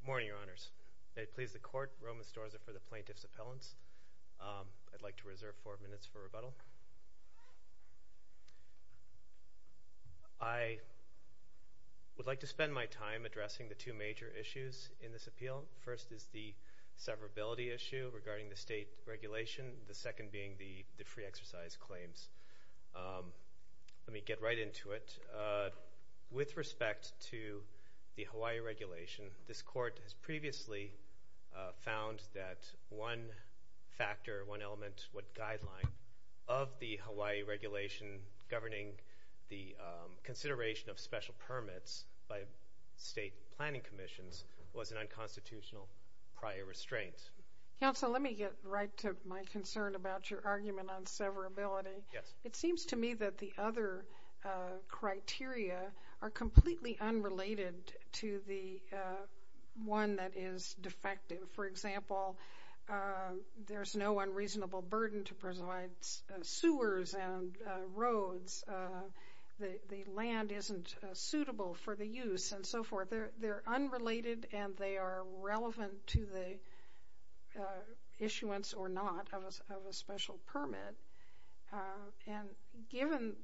Good morning, Your Honors. May it please the Court, Roman Storza for the Plaintiff's Appellants. I'd like to reserve four minutes for rebuttal. I would like to spend my time addressing the two major issues in this appeal. The first is the severability issue regarding the state regulation. The second being the free exercise claims. Let me get right into it. With respect to the Hawaii regulation, this Court has previously found that one factor, one element, one guideline of the Hawaii regulation governing the consideration of special permits by state planning commissions was an unconstitutional prior restraint. Counsel, let me get right to my concern about your argument on severability. It seems to me that the other criteria are completely unrelated to the one that is defective. For example, there's no unreasonable burden to provide sewers and roads. The land isn't suitable for the use and so forth. They're unrelated and they are relevant to the issuance or not of a special permit. And given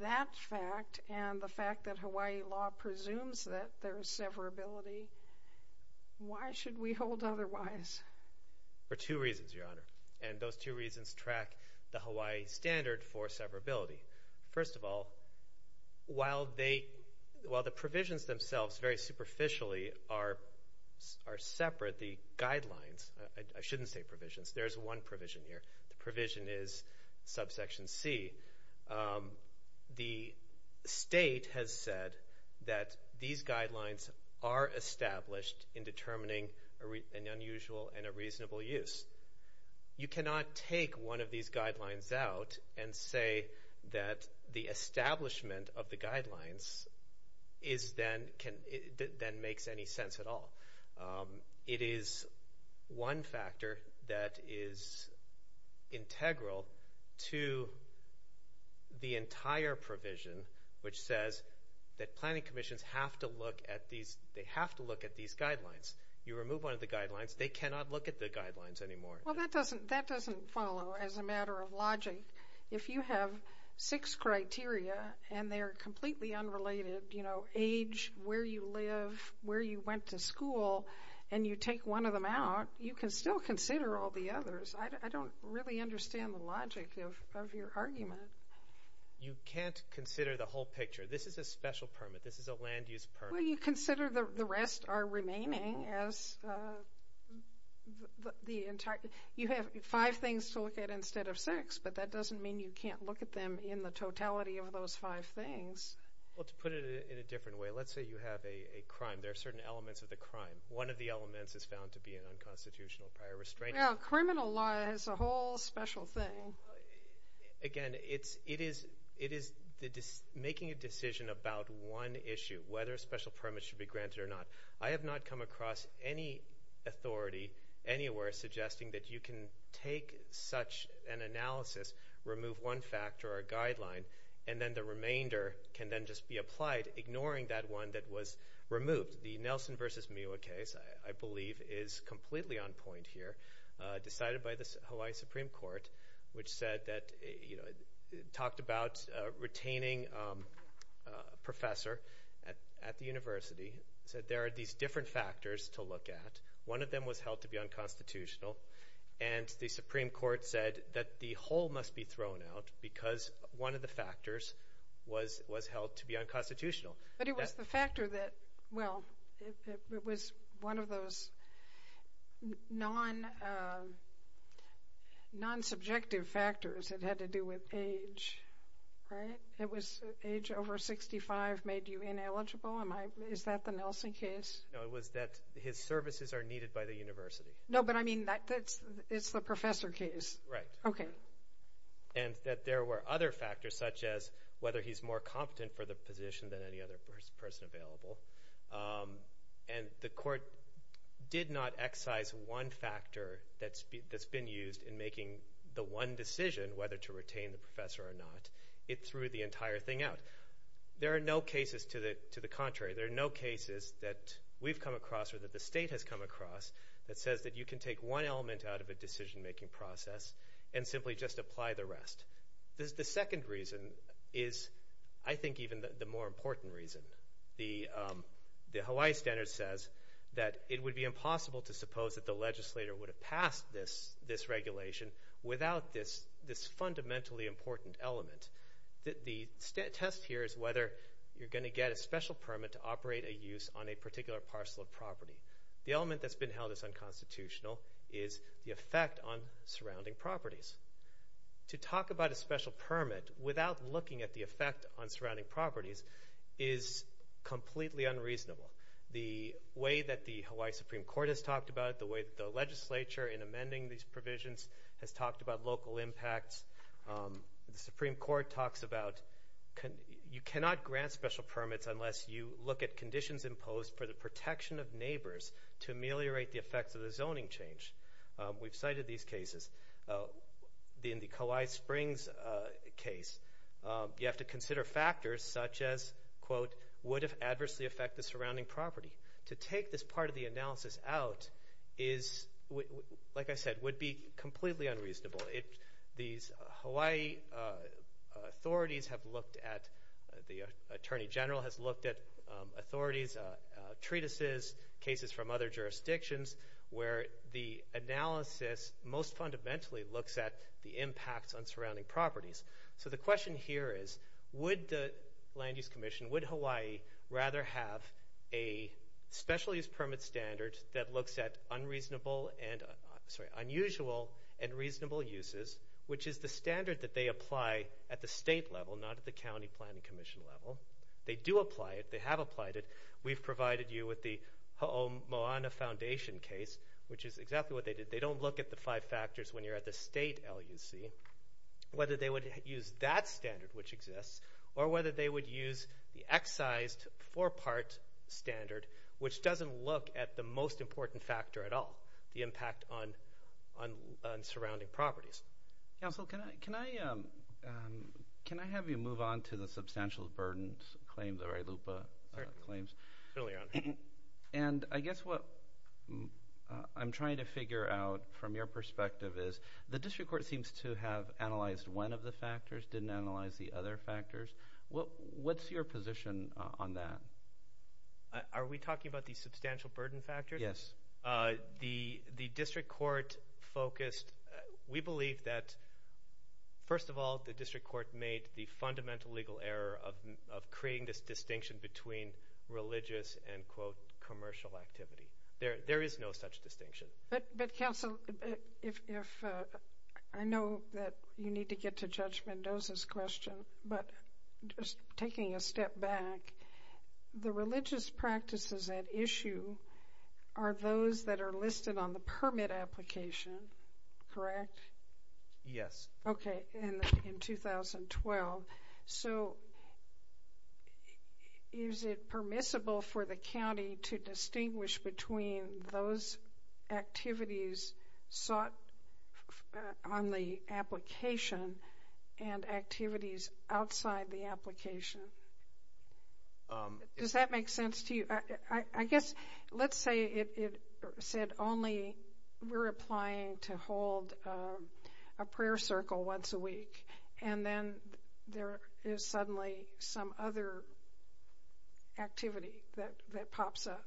that fact and the fact that Hawaii law presumes that there is severability, why should we hold otherwise? For two reasons, Your Honor, and those two reasons track the Hawaii standard for severability. First of all, while the provisions themselves very superficially are separate, the guidelines, I shouldn't say provisions, there's one provision here. The provision is subsection C. The state has said that these guidelines are established in determining an unusual and a reasonable use. You cannot take one of these guidelines out and say that the establishment of the guidelines then makes any sense at all. It is one factor that is integral to the entire provision, which says that planning commissions have to look at these guidelines. You remove one of the guidelines, they cannot look at the guidelines anymore. Well, that doesn't follow as a matter of logic. If you have six criteria and they are completely unrelated, you know, age, where you live, where you went to school, and you take one of them out, you can still consider all the others. I don't really understand the logic of your argument. You can't consider the whole picture. This is a special permit. This is a land use permit. Well, you consider the rest are remaining as the entire. You have five things to look at instead of six, but that doesn't mean you can't look at them in the totality of those five things. Well, to put it in a different way, let's say you have a crime. There are certain elements of the crime. One of the elements is found to be an unconstitutional prior restraint. Well, criminal law is a whole special thing. Again, it is making a decision about one issue, whether a special permit should be granted or not. I have not come across any authority anywhere suggesting that you can take such an analysis, remove one factor or guideline, and then the remainder can then just be applied, ignoring that one that was removed. The Nelson v. Miwa case, I believe, is completely on point here, decided by the Hawaii Supreme Court, which talked about retaining a professor at the university, said there are these different factors to look at. One of them was held to be unconstitutional, and the Supreme Court said that the whole must be thrown out because one of the factors was held to be unconstitutional. But it was the factor that, well, it was one of those non-subjective factors. It had to do with age, right? Age over 65 made you ineligible? Is that the Nelson case? No, it was that his services are needed by the university. No, but I mean it's the professor case. Right. Okay. And that there were other factors, such as whether he's more competent for the position than any other person available. And the court did not excise one factor that's been used in making the one decision, whether to retain the professor or not. It threw the entire thing out. There are no cases to the contrary. There are no cases that we've come across or that the state has come across that says that you can take one element out of a decision-making process and simply just apply the rest. The second reason is, I think, even the more important reason. The Hawaii standard says that it would be impossible to suppose that the legislator would have passed this regulation without this fundamentally important element. The test here is whether you're going to get a special permit to operate a use on a particular parcel of property. The element that's been held as unconstitutional is the effect on surrounding properties. To talk about a special permit without looking at the effect on surrounding properties is completely unreasonable. The way that the Hawaii Supreme Court has talked about it, the way that the legislature in amending these provisions has talked about local impacts. The Supreme Court talks about you cannot grant special permits unless you look at conditions imposed for the protection of neighbors to ameliorate the effects of the zoning change. We've cited these cases. In the Kauai Springs case, you have to consider factors such as, would it adversely affect the surrounding property? To take this part of the analysis out is, like I said, would be completely unreasonable. These Hawaii authorities have looked at, the Attorney General has looked at authorities, treatises, cases from other jurisdictions, where the analysis most fundamentally looks at the impacts on surrounding properties. So the question here is, would the Land Use Commission, would Hawaii rather have a special use permit standard that looks at unusual and reasonable uses, which is the standard that they apply at the state level, not at the county planning commission level. They do apply it. They have applied it. We've provided you with the Ho'omoana Foundation case, which is exactly what they did. They don't look at the five factors when you're at the state LUC, whether they would use that standard, which exists, or whether they would use the excised four-part standard, which doesn't look at the most important factor at all, the impact on surrounding properties. Counsel, can I have you move on to the substantial burdens claim, the Ray Lupa claims? Certainly, Your Honor. And I guess what I'm trying to figure out from your perspective is, the district court seems to have analyzed one of the factors, didn't analyze the other factors. What's your position on that? Are we talking about the substantial burden factors? The district court focused, we believe that, first of all, the district court made the fundamental legal error of creating this distinction between religious and, quote, commercial activity. There is no such distinction. But, counsel, I know that you need to get to Judge Mendoza's question, but just taking a step back, the religious practices at issue are those that are listed on the permit application, correct? Yes. Okay, in 2012. So, is it permissible for the county to distinguish between those activities sought on the application and activities outside the application? Does that make sense to you? I guess let's say it said only we're applying to hold a prayer circle once a week, and then there is suddenly some other activity that pops up.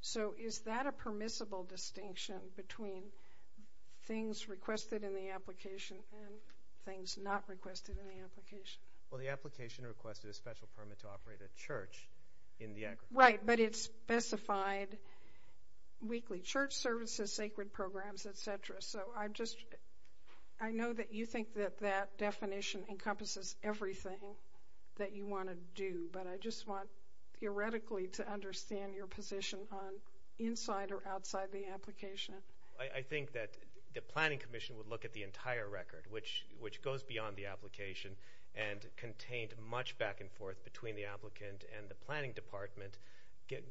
So, is that a permissible distinction between things requested in the application and things not requested in the application? Well, the application requested a special permit to operate a church in Niagara. Right, but it specified weekly church services, sacred programs, et cetera. So, I know that you think that that definition encompasses everything that you want to do, but I just want theoretically to understand your position on inside or outside the application. I think that the planning commission would look at the entire record, which goes beyond the application and contained much back and forth between the applicant and the planning department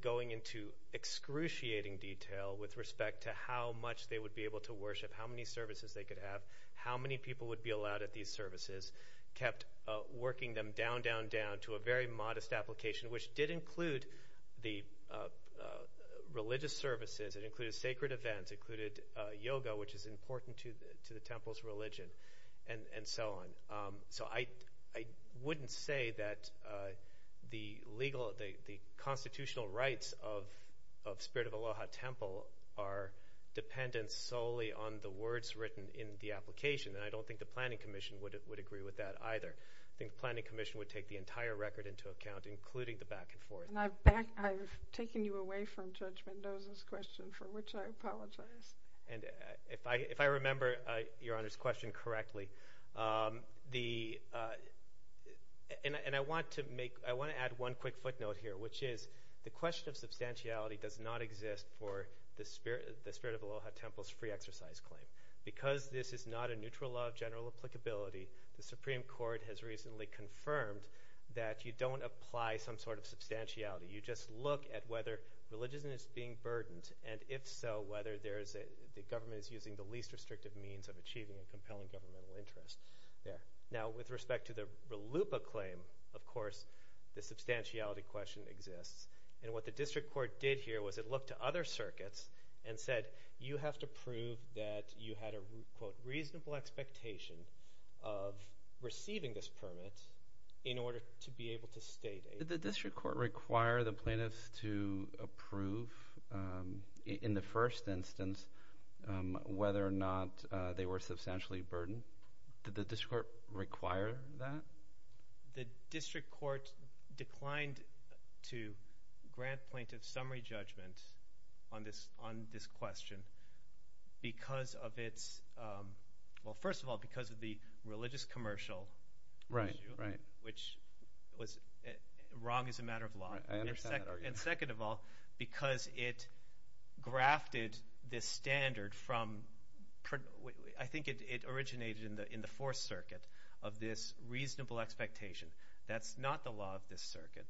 going into excruciating detail with respect to how much they would be able to worship, how many services they could have, how many people would be allowed at these services, kept working them down, down, down to a very modest application, which did include the religious services. It included sacred events. It included yoga, which is important to the temple's religion, and so on. So, I wouldn't say that the constitutional rights of Spirit of Aloha Temple are dependent solely on the words written in the application, and I don't think the planning commission would agree with that either. I think the planning commission would take the entire record into account, including the back and forth. And I've taken you away from Judge Mendoza's question, for which I apologize. And if I remember Your Honor's question correctly, and I want to add one quick footnote here, which is the question of substantiality does not exist for the Spirit of Aloha Temple's free exercise claim. Because this is not a neutral law of general applicability, the Supreme Court has recently confirmed that you don't apply some sort of substantiality. You just look at whether religion is being burdened, and if so, whether the government is using the least restrictive means of achieving a compelling governmental interest. Now, with respect to the RLUIPA claim, of course, the substantiality question exists. And what the district court did here was it looked to other circuits and said, you have to prove that you had a, quote, reasonable expectation of receiving this permit in order to be able to state it. Did the district court require the plaintiffs to approve in the first instance whether or not they were substantially burdened? Did the district court require that? The district court declined to grant plaintiff summary judgment on this question because of its – well, first of all, because of the religious commercial issue, which was wrong as a matter of law. And second of all, because it grafted this standard from – I think it originated in the Fourth Circuit of this reasonable expectation. That's not the law of this circuit.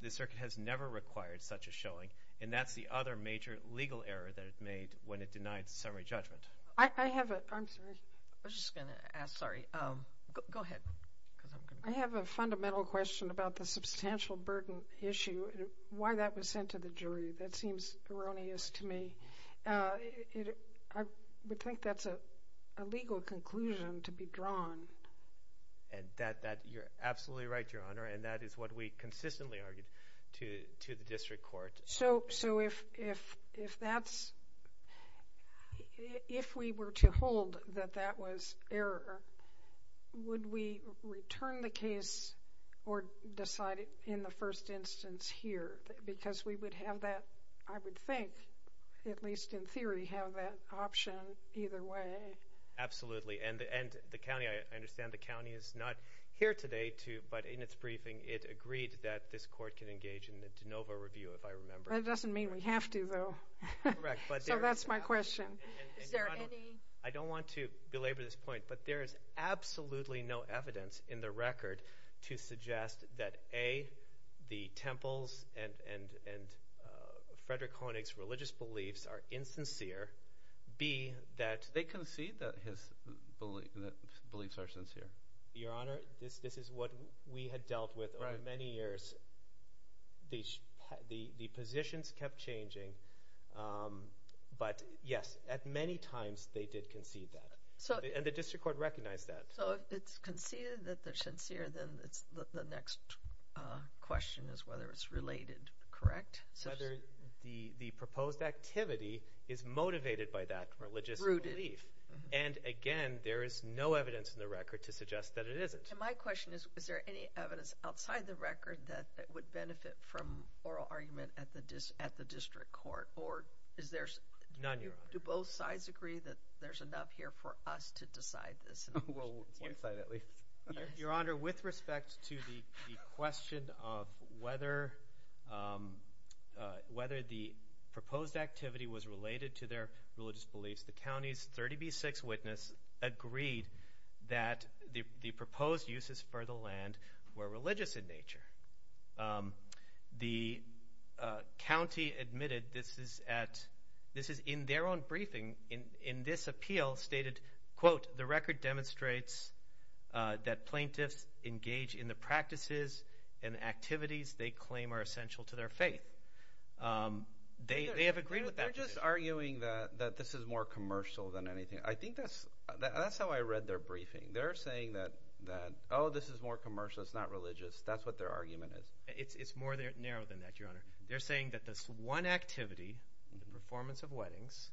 This circuit has never required such a showing, and that's the other major legal error that it made when it denied summary judgment. I have a – I'm sorry. I was just going to ask – sorry. Go ahead. I have a fundamental question about the substantial burden issue and why that was sent to the jury. That seems erroneous to me. I would think that's a legal conclusion to be drawn. And that – you're absolutely right, Your Honor, and that is what we consistently argued to the district court. So if that's – if we were to hold that that was error, would we return the case or decide it in the first instance here? Because we would have that, I would think, at least in theory, have that option either way. And the county – I understand the county is not here today to – but in its briefing it agreed that this court can engage in a de novo review, if I remember. That doesn't mean we have to, though. Correct. So that's my question. Is there any – I don't want to belabor this point, but there is absolutely no evidence in the record to suggest that, A, the temples and Frederick Koenig's religious beliefs are insincere. B, that – They concede that his beliefs are sincere. Your Honor, this is what we had dealt with over many years. The positions kept changing, but yes, at many times they did concede that. And the district court recognized that. So if it's conceded that they're sincere, then the next question is whether it's related. Correct? Whether the proposed activity is motivated by that religious belief. And, again, there is no evidence in the record to suggest that it isn't. And my question is, is there any evidence outside the record that would benefit from oral argument at the district court? Or is there – None, Your Honor. Do both sides agree that there's enough here for us to decide this? Well, one side at least. Your Honor, with respect to the question of whether the proposed activity was related to their religious beliefs, the county's 30B6 witness agreed that the proposed uses for the land were religious in nature. The county admitted this is at – this is in their own briefing. In this appeal stated, quote, the record demonstrates that plaintiffs engage in the practices and activities they claim are essential to their faith. They have agreed with that. They're just arguing that this is more commercial than anything. I think that's how I read their briefing. They're saying that, oh, this is more commercial. It's not religious. That's what their argument is. It's more narrow than that, Your Honor. They're saying that this one activity, the performance of weddings,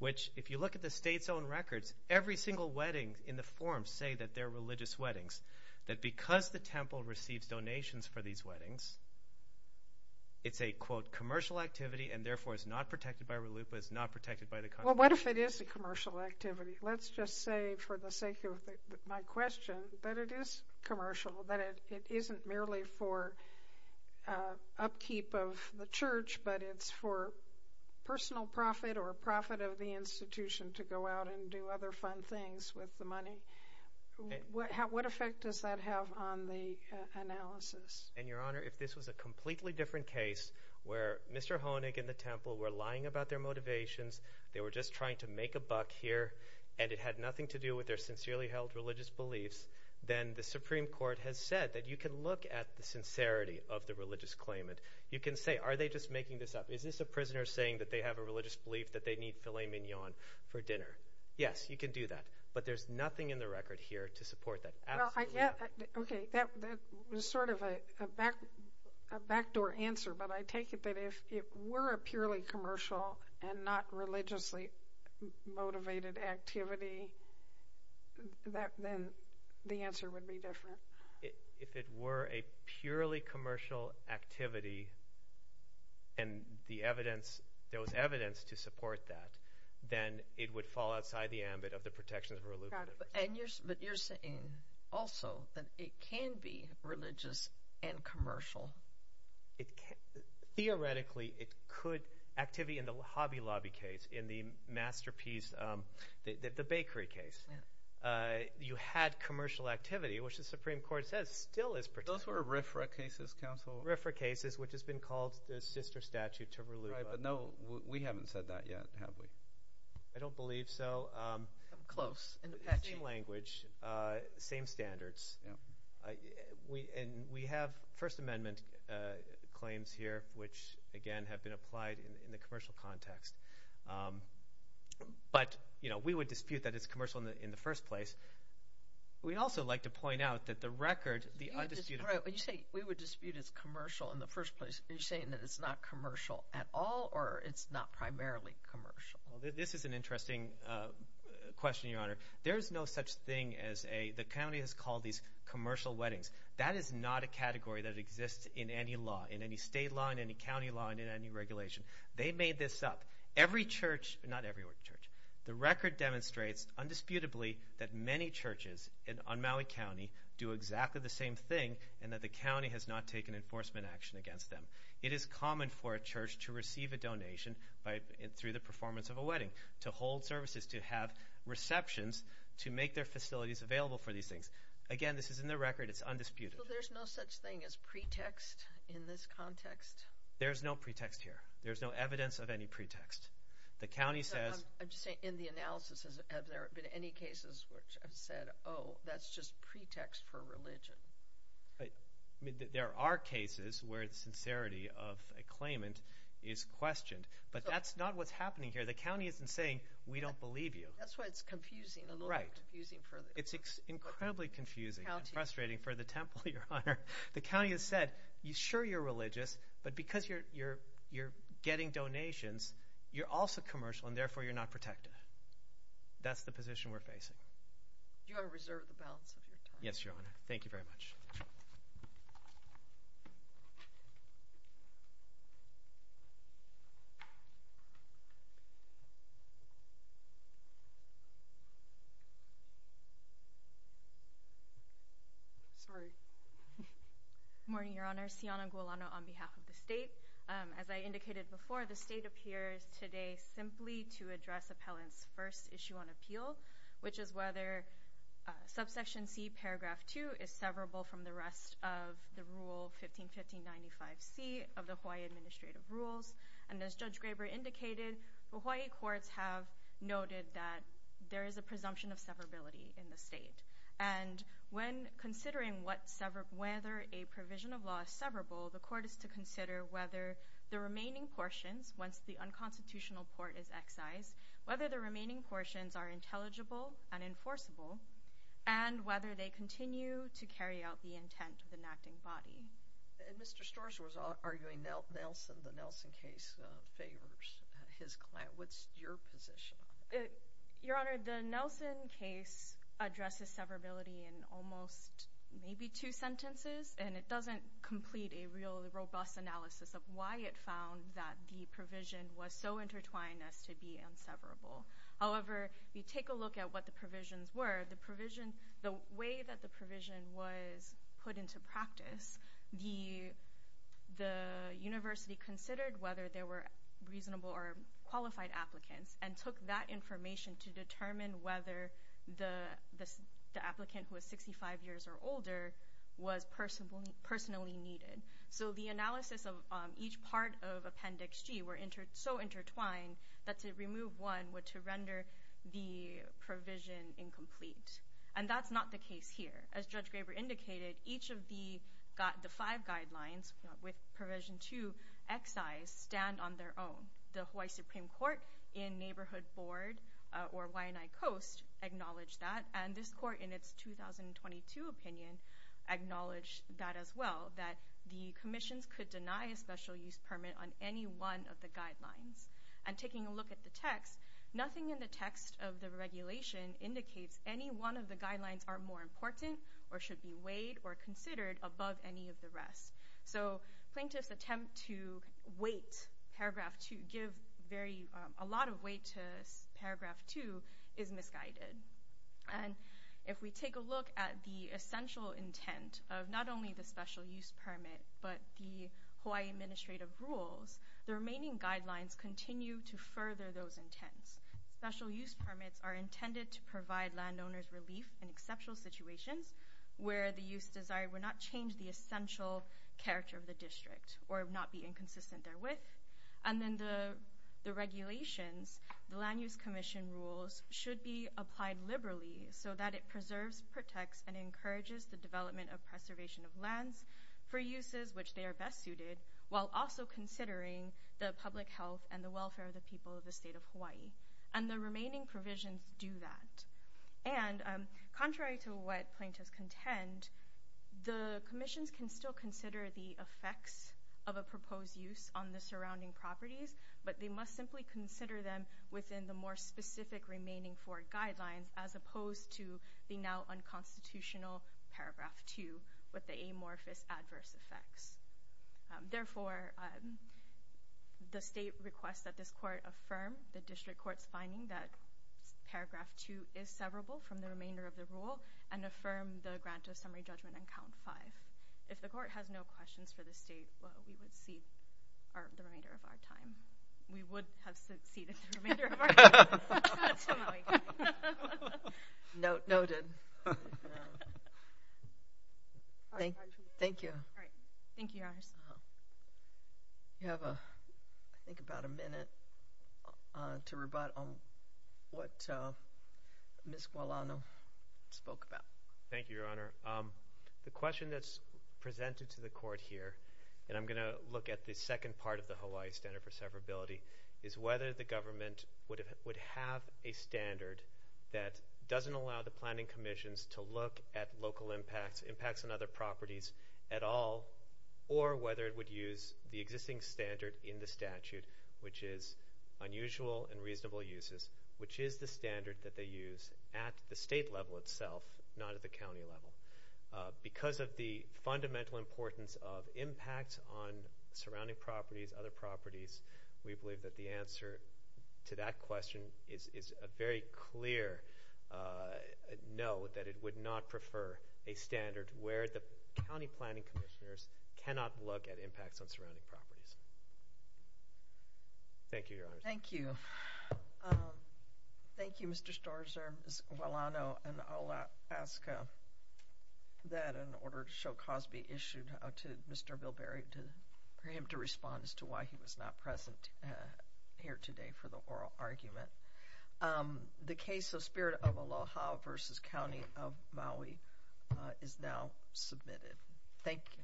which if you look at the state's own records, every single wedding in the form say that they're religious weddings, that because the temple receives donations for these weddings, it's a, quote, commercial activity and therefore is not protected by RELUPA, is not protected by the county. Well, what if it is a commercial activity? Let's just say for the sake of my question that it is commercial, that it isn't merely for upkeep of the church, but it's for personal profit or profit of the institution to go out and do other fun things with the money. What effect does that have on the analysis? And, Your Honor, if this was a completely different case where Mr. Honig and the temple were lying about their motivations, they were just trying to make a buck here, and it had nothing to do with their sincerely held religious beliefs, then the Supreme Court has said that you can look at the sincerity of the religious claimant. You can say, are they just making this up? Is this a prisoner saying that they have a religious belief that they need filet mignon for dinner? Yes, you can do that, but there's nothing in the record here to support that. Absolutely not. Okay, that was sort of a backdoor answer, but I take it that if it were a purely commercial and not religiously motivated activity, then the answer would be different. If it were a purely commercial activity and there was evidence to support that, then it would fall outside the ambit of the protections of religious beliefs. But you're saying also that it can be religious and commercial. Theoretically, it could – activity in the Hobby Lobby case, in the masterpiece – the bakery case. You had commercial activity, which the Supreme Court says still is protected. Those were RFRA cases, Counsel. RFRA cases, which has been called the sister statute to RLUBA. Right, but no, we haven't said that yet, have we? I don't believe so. Close. Same language, same standards, and we have First Amendment claims here, which, again, have been applied in the commercial context. But we would dispute that it's commercial in the first place. We'd also like to point out that the record, the undisputed – When you say we would dispute it's commercial in the first place, are you saying that it's not commercial at all or it's not primarily commercial? This is an interesting question, Your Honor. There is no such thing as a – the county has called these commercial weddings. That is not a category that exists in any law, in any state law, in any county law, in any regulation. They made this up. Every church – not every church. The record demonstrates, undisputably, that many churches on Maui County do exactly the same thing and that the county has not taken enforcement action against them. It is common for a church to receive a donation through the performance of a wedding, to hold services, to have receptions, to make their facilities available for these things. Again, this is in the record. It's undisputed. So there's no such thing as pretext in this context? There's no pretext here. There's no evidence of any pretext. The county says – I'm just saying in the analysis, have there been any cases where it's said, oh, that's just pretext for religion? There are cases where the sincerity of a claimant is questioned, but that's not what's happening here. The county isn't saying, we don't believe you. That's why it's confusing. Right. It's incredibly confusing and frustrating for the temple, Your Honor. The county has said, sure, you're religious, but because you're getting donations, you're also commercial, and therefore, you're not protected. That's the position we're facing. Do you want to reserve the balance of your time? Yes, Your Honor. Thank you very much. Sorry. Good morning, Your Honor. Siona Gulano on behalf of the state. As I indicated before, the state appears today simply to address appellant's first issue on appeal, which is whether Subsection C, Paragraph 2 is severable from the rest of the Rule 151595C of the Hawaii Administrative Rules. And as Judge Graber indicated, Hawaii courts have noted that there is a presumption of severability in the state. And when considering whether a provision of law is severable, the court is to consider whether the remaining portions, once the unconstitutional port is excised, whether the remaining portions are intelligible and enforceable, and whether they continue to carry out the intent of the enacting body. And Mr. Storrs was arguing Nelson. The Nelson case favors his client. What's your position? Your Honor, the Nelson case addresses severability in almost maybe two sentences, and it doesn't complete a real robust analysis of why it found that the provision was so intertwined as to be inseverable. However, if you take a look at what the provisions were, the way that the provision was put into practice, the university considered whether there were reasonable or qualified applicants and took that information to determine whether the applicant, who was 65 years or older, was personally needed. So the analysis of each part of Appendix G were so intertwined that to remove one would render the provision incomplete. And that's not the case here. As Judge Graber indicated, each of the five guidelines with Provision 2 excised stand on their own. The Hawaii Supreme Court in Neighborhood Board or Wai'anae Coast acknowledged that, and this court in its 2022 opinion acknowledged that as well, that the commissions could deny a special use permit on any one of the guidelines. And taking a look at the text, nothing in the text of the regulation indicates any one of the guidelines are more important or should be weighed or considered above any of the rest. So plaintiff's attempt to give a lot of weight to Paragraph 2 is misguided. And if we take a look at the essential intent of not only the special use permit but the Hawaii Administrative Rules, the remaining guidelines continue to further those intents. Special use permits are intended to provide landowners relief in exceptional situations where the use desire would not change the essential character of the district or not be inconsistent therewith. And then the regulations, the Land Use Commission rules, should be applied liberally so that it preserves, protects, and encourages the development of preservation of lands for uses which they are best suited while also considering the public health and the welfare of the people of the state of Hawaii. And the remaining provisions do that. And contrary to what plaintiffs contend, the commissions can still consider the effects of a proposed use on the surrounding properties, but they must simply consider them within the more specific remaining four guidelines as opposed to the now unconstitutional Paragraph 2 with the amorphous adverse effects. Therefore, the state requests that this court affirm the district court's finding that Paragraph 2 is severable from the remainder of the rule and affirm the grant of summary judgment on Count 5. If the court has no questions for the state, we would have succeeded the remainder of our time. Noted. Thank you. Thank you, Your Honor. We have, I think, about a minute to rebut on what Ms. Guadalano spoke about. Thank you, Your Honor. The question that's presented to the court here, and I'm going to look at the second part of the Hawaii Standard for Severability, is whether the government would have a standard that doesn't allow the planning commissions to look at local impacts, impacts on other properties at all, or whether it would use the existing standard in the statute, which is unusual and reasonable uses, which is the standard that they use at the state level itself, not at the county level. Because of the fundamental importance of impacts on surrounding properties, other properties, we believe that the answer to that question is a very clear no, that it would not prefer a standard where the county planning commissioners cannot look at impacts on surrounding properties. Thank you, Your Honor. Thank you. Thank you, Mr. Storrs, Ms. Guadalano, and I'll ask that in order to show Cosby issued to Mr. Bilberry, for him to respond as to why he was not present here today for the oral argument. The case of Spirit of Aloha versus County of Maui is now submitted. Thank you.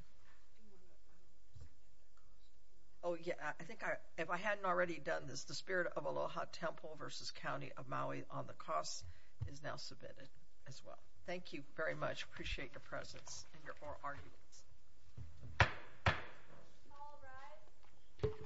Oh, yeah, I think if I hadn't already done this, the Spirit of Aloha Temple versus County of Maui on the costs is now submitted as well. Thank you very much. Appreciate your presence and your oral arguments. All rise.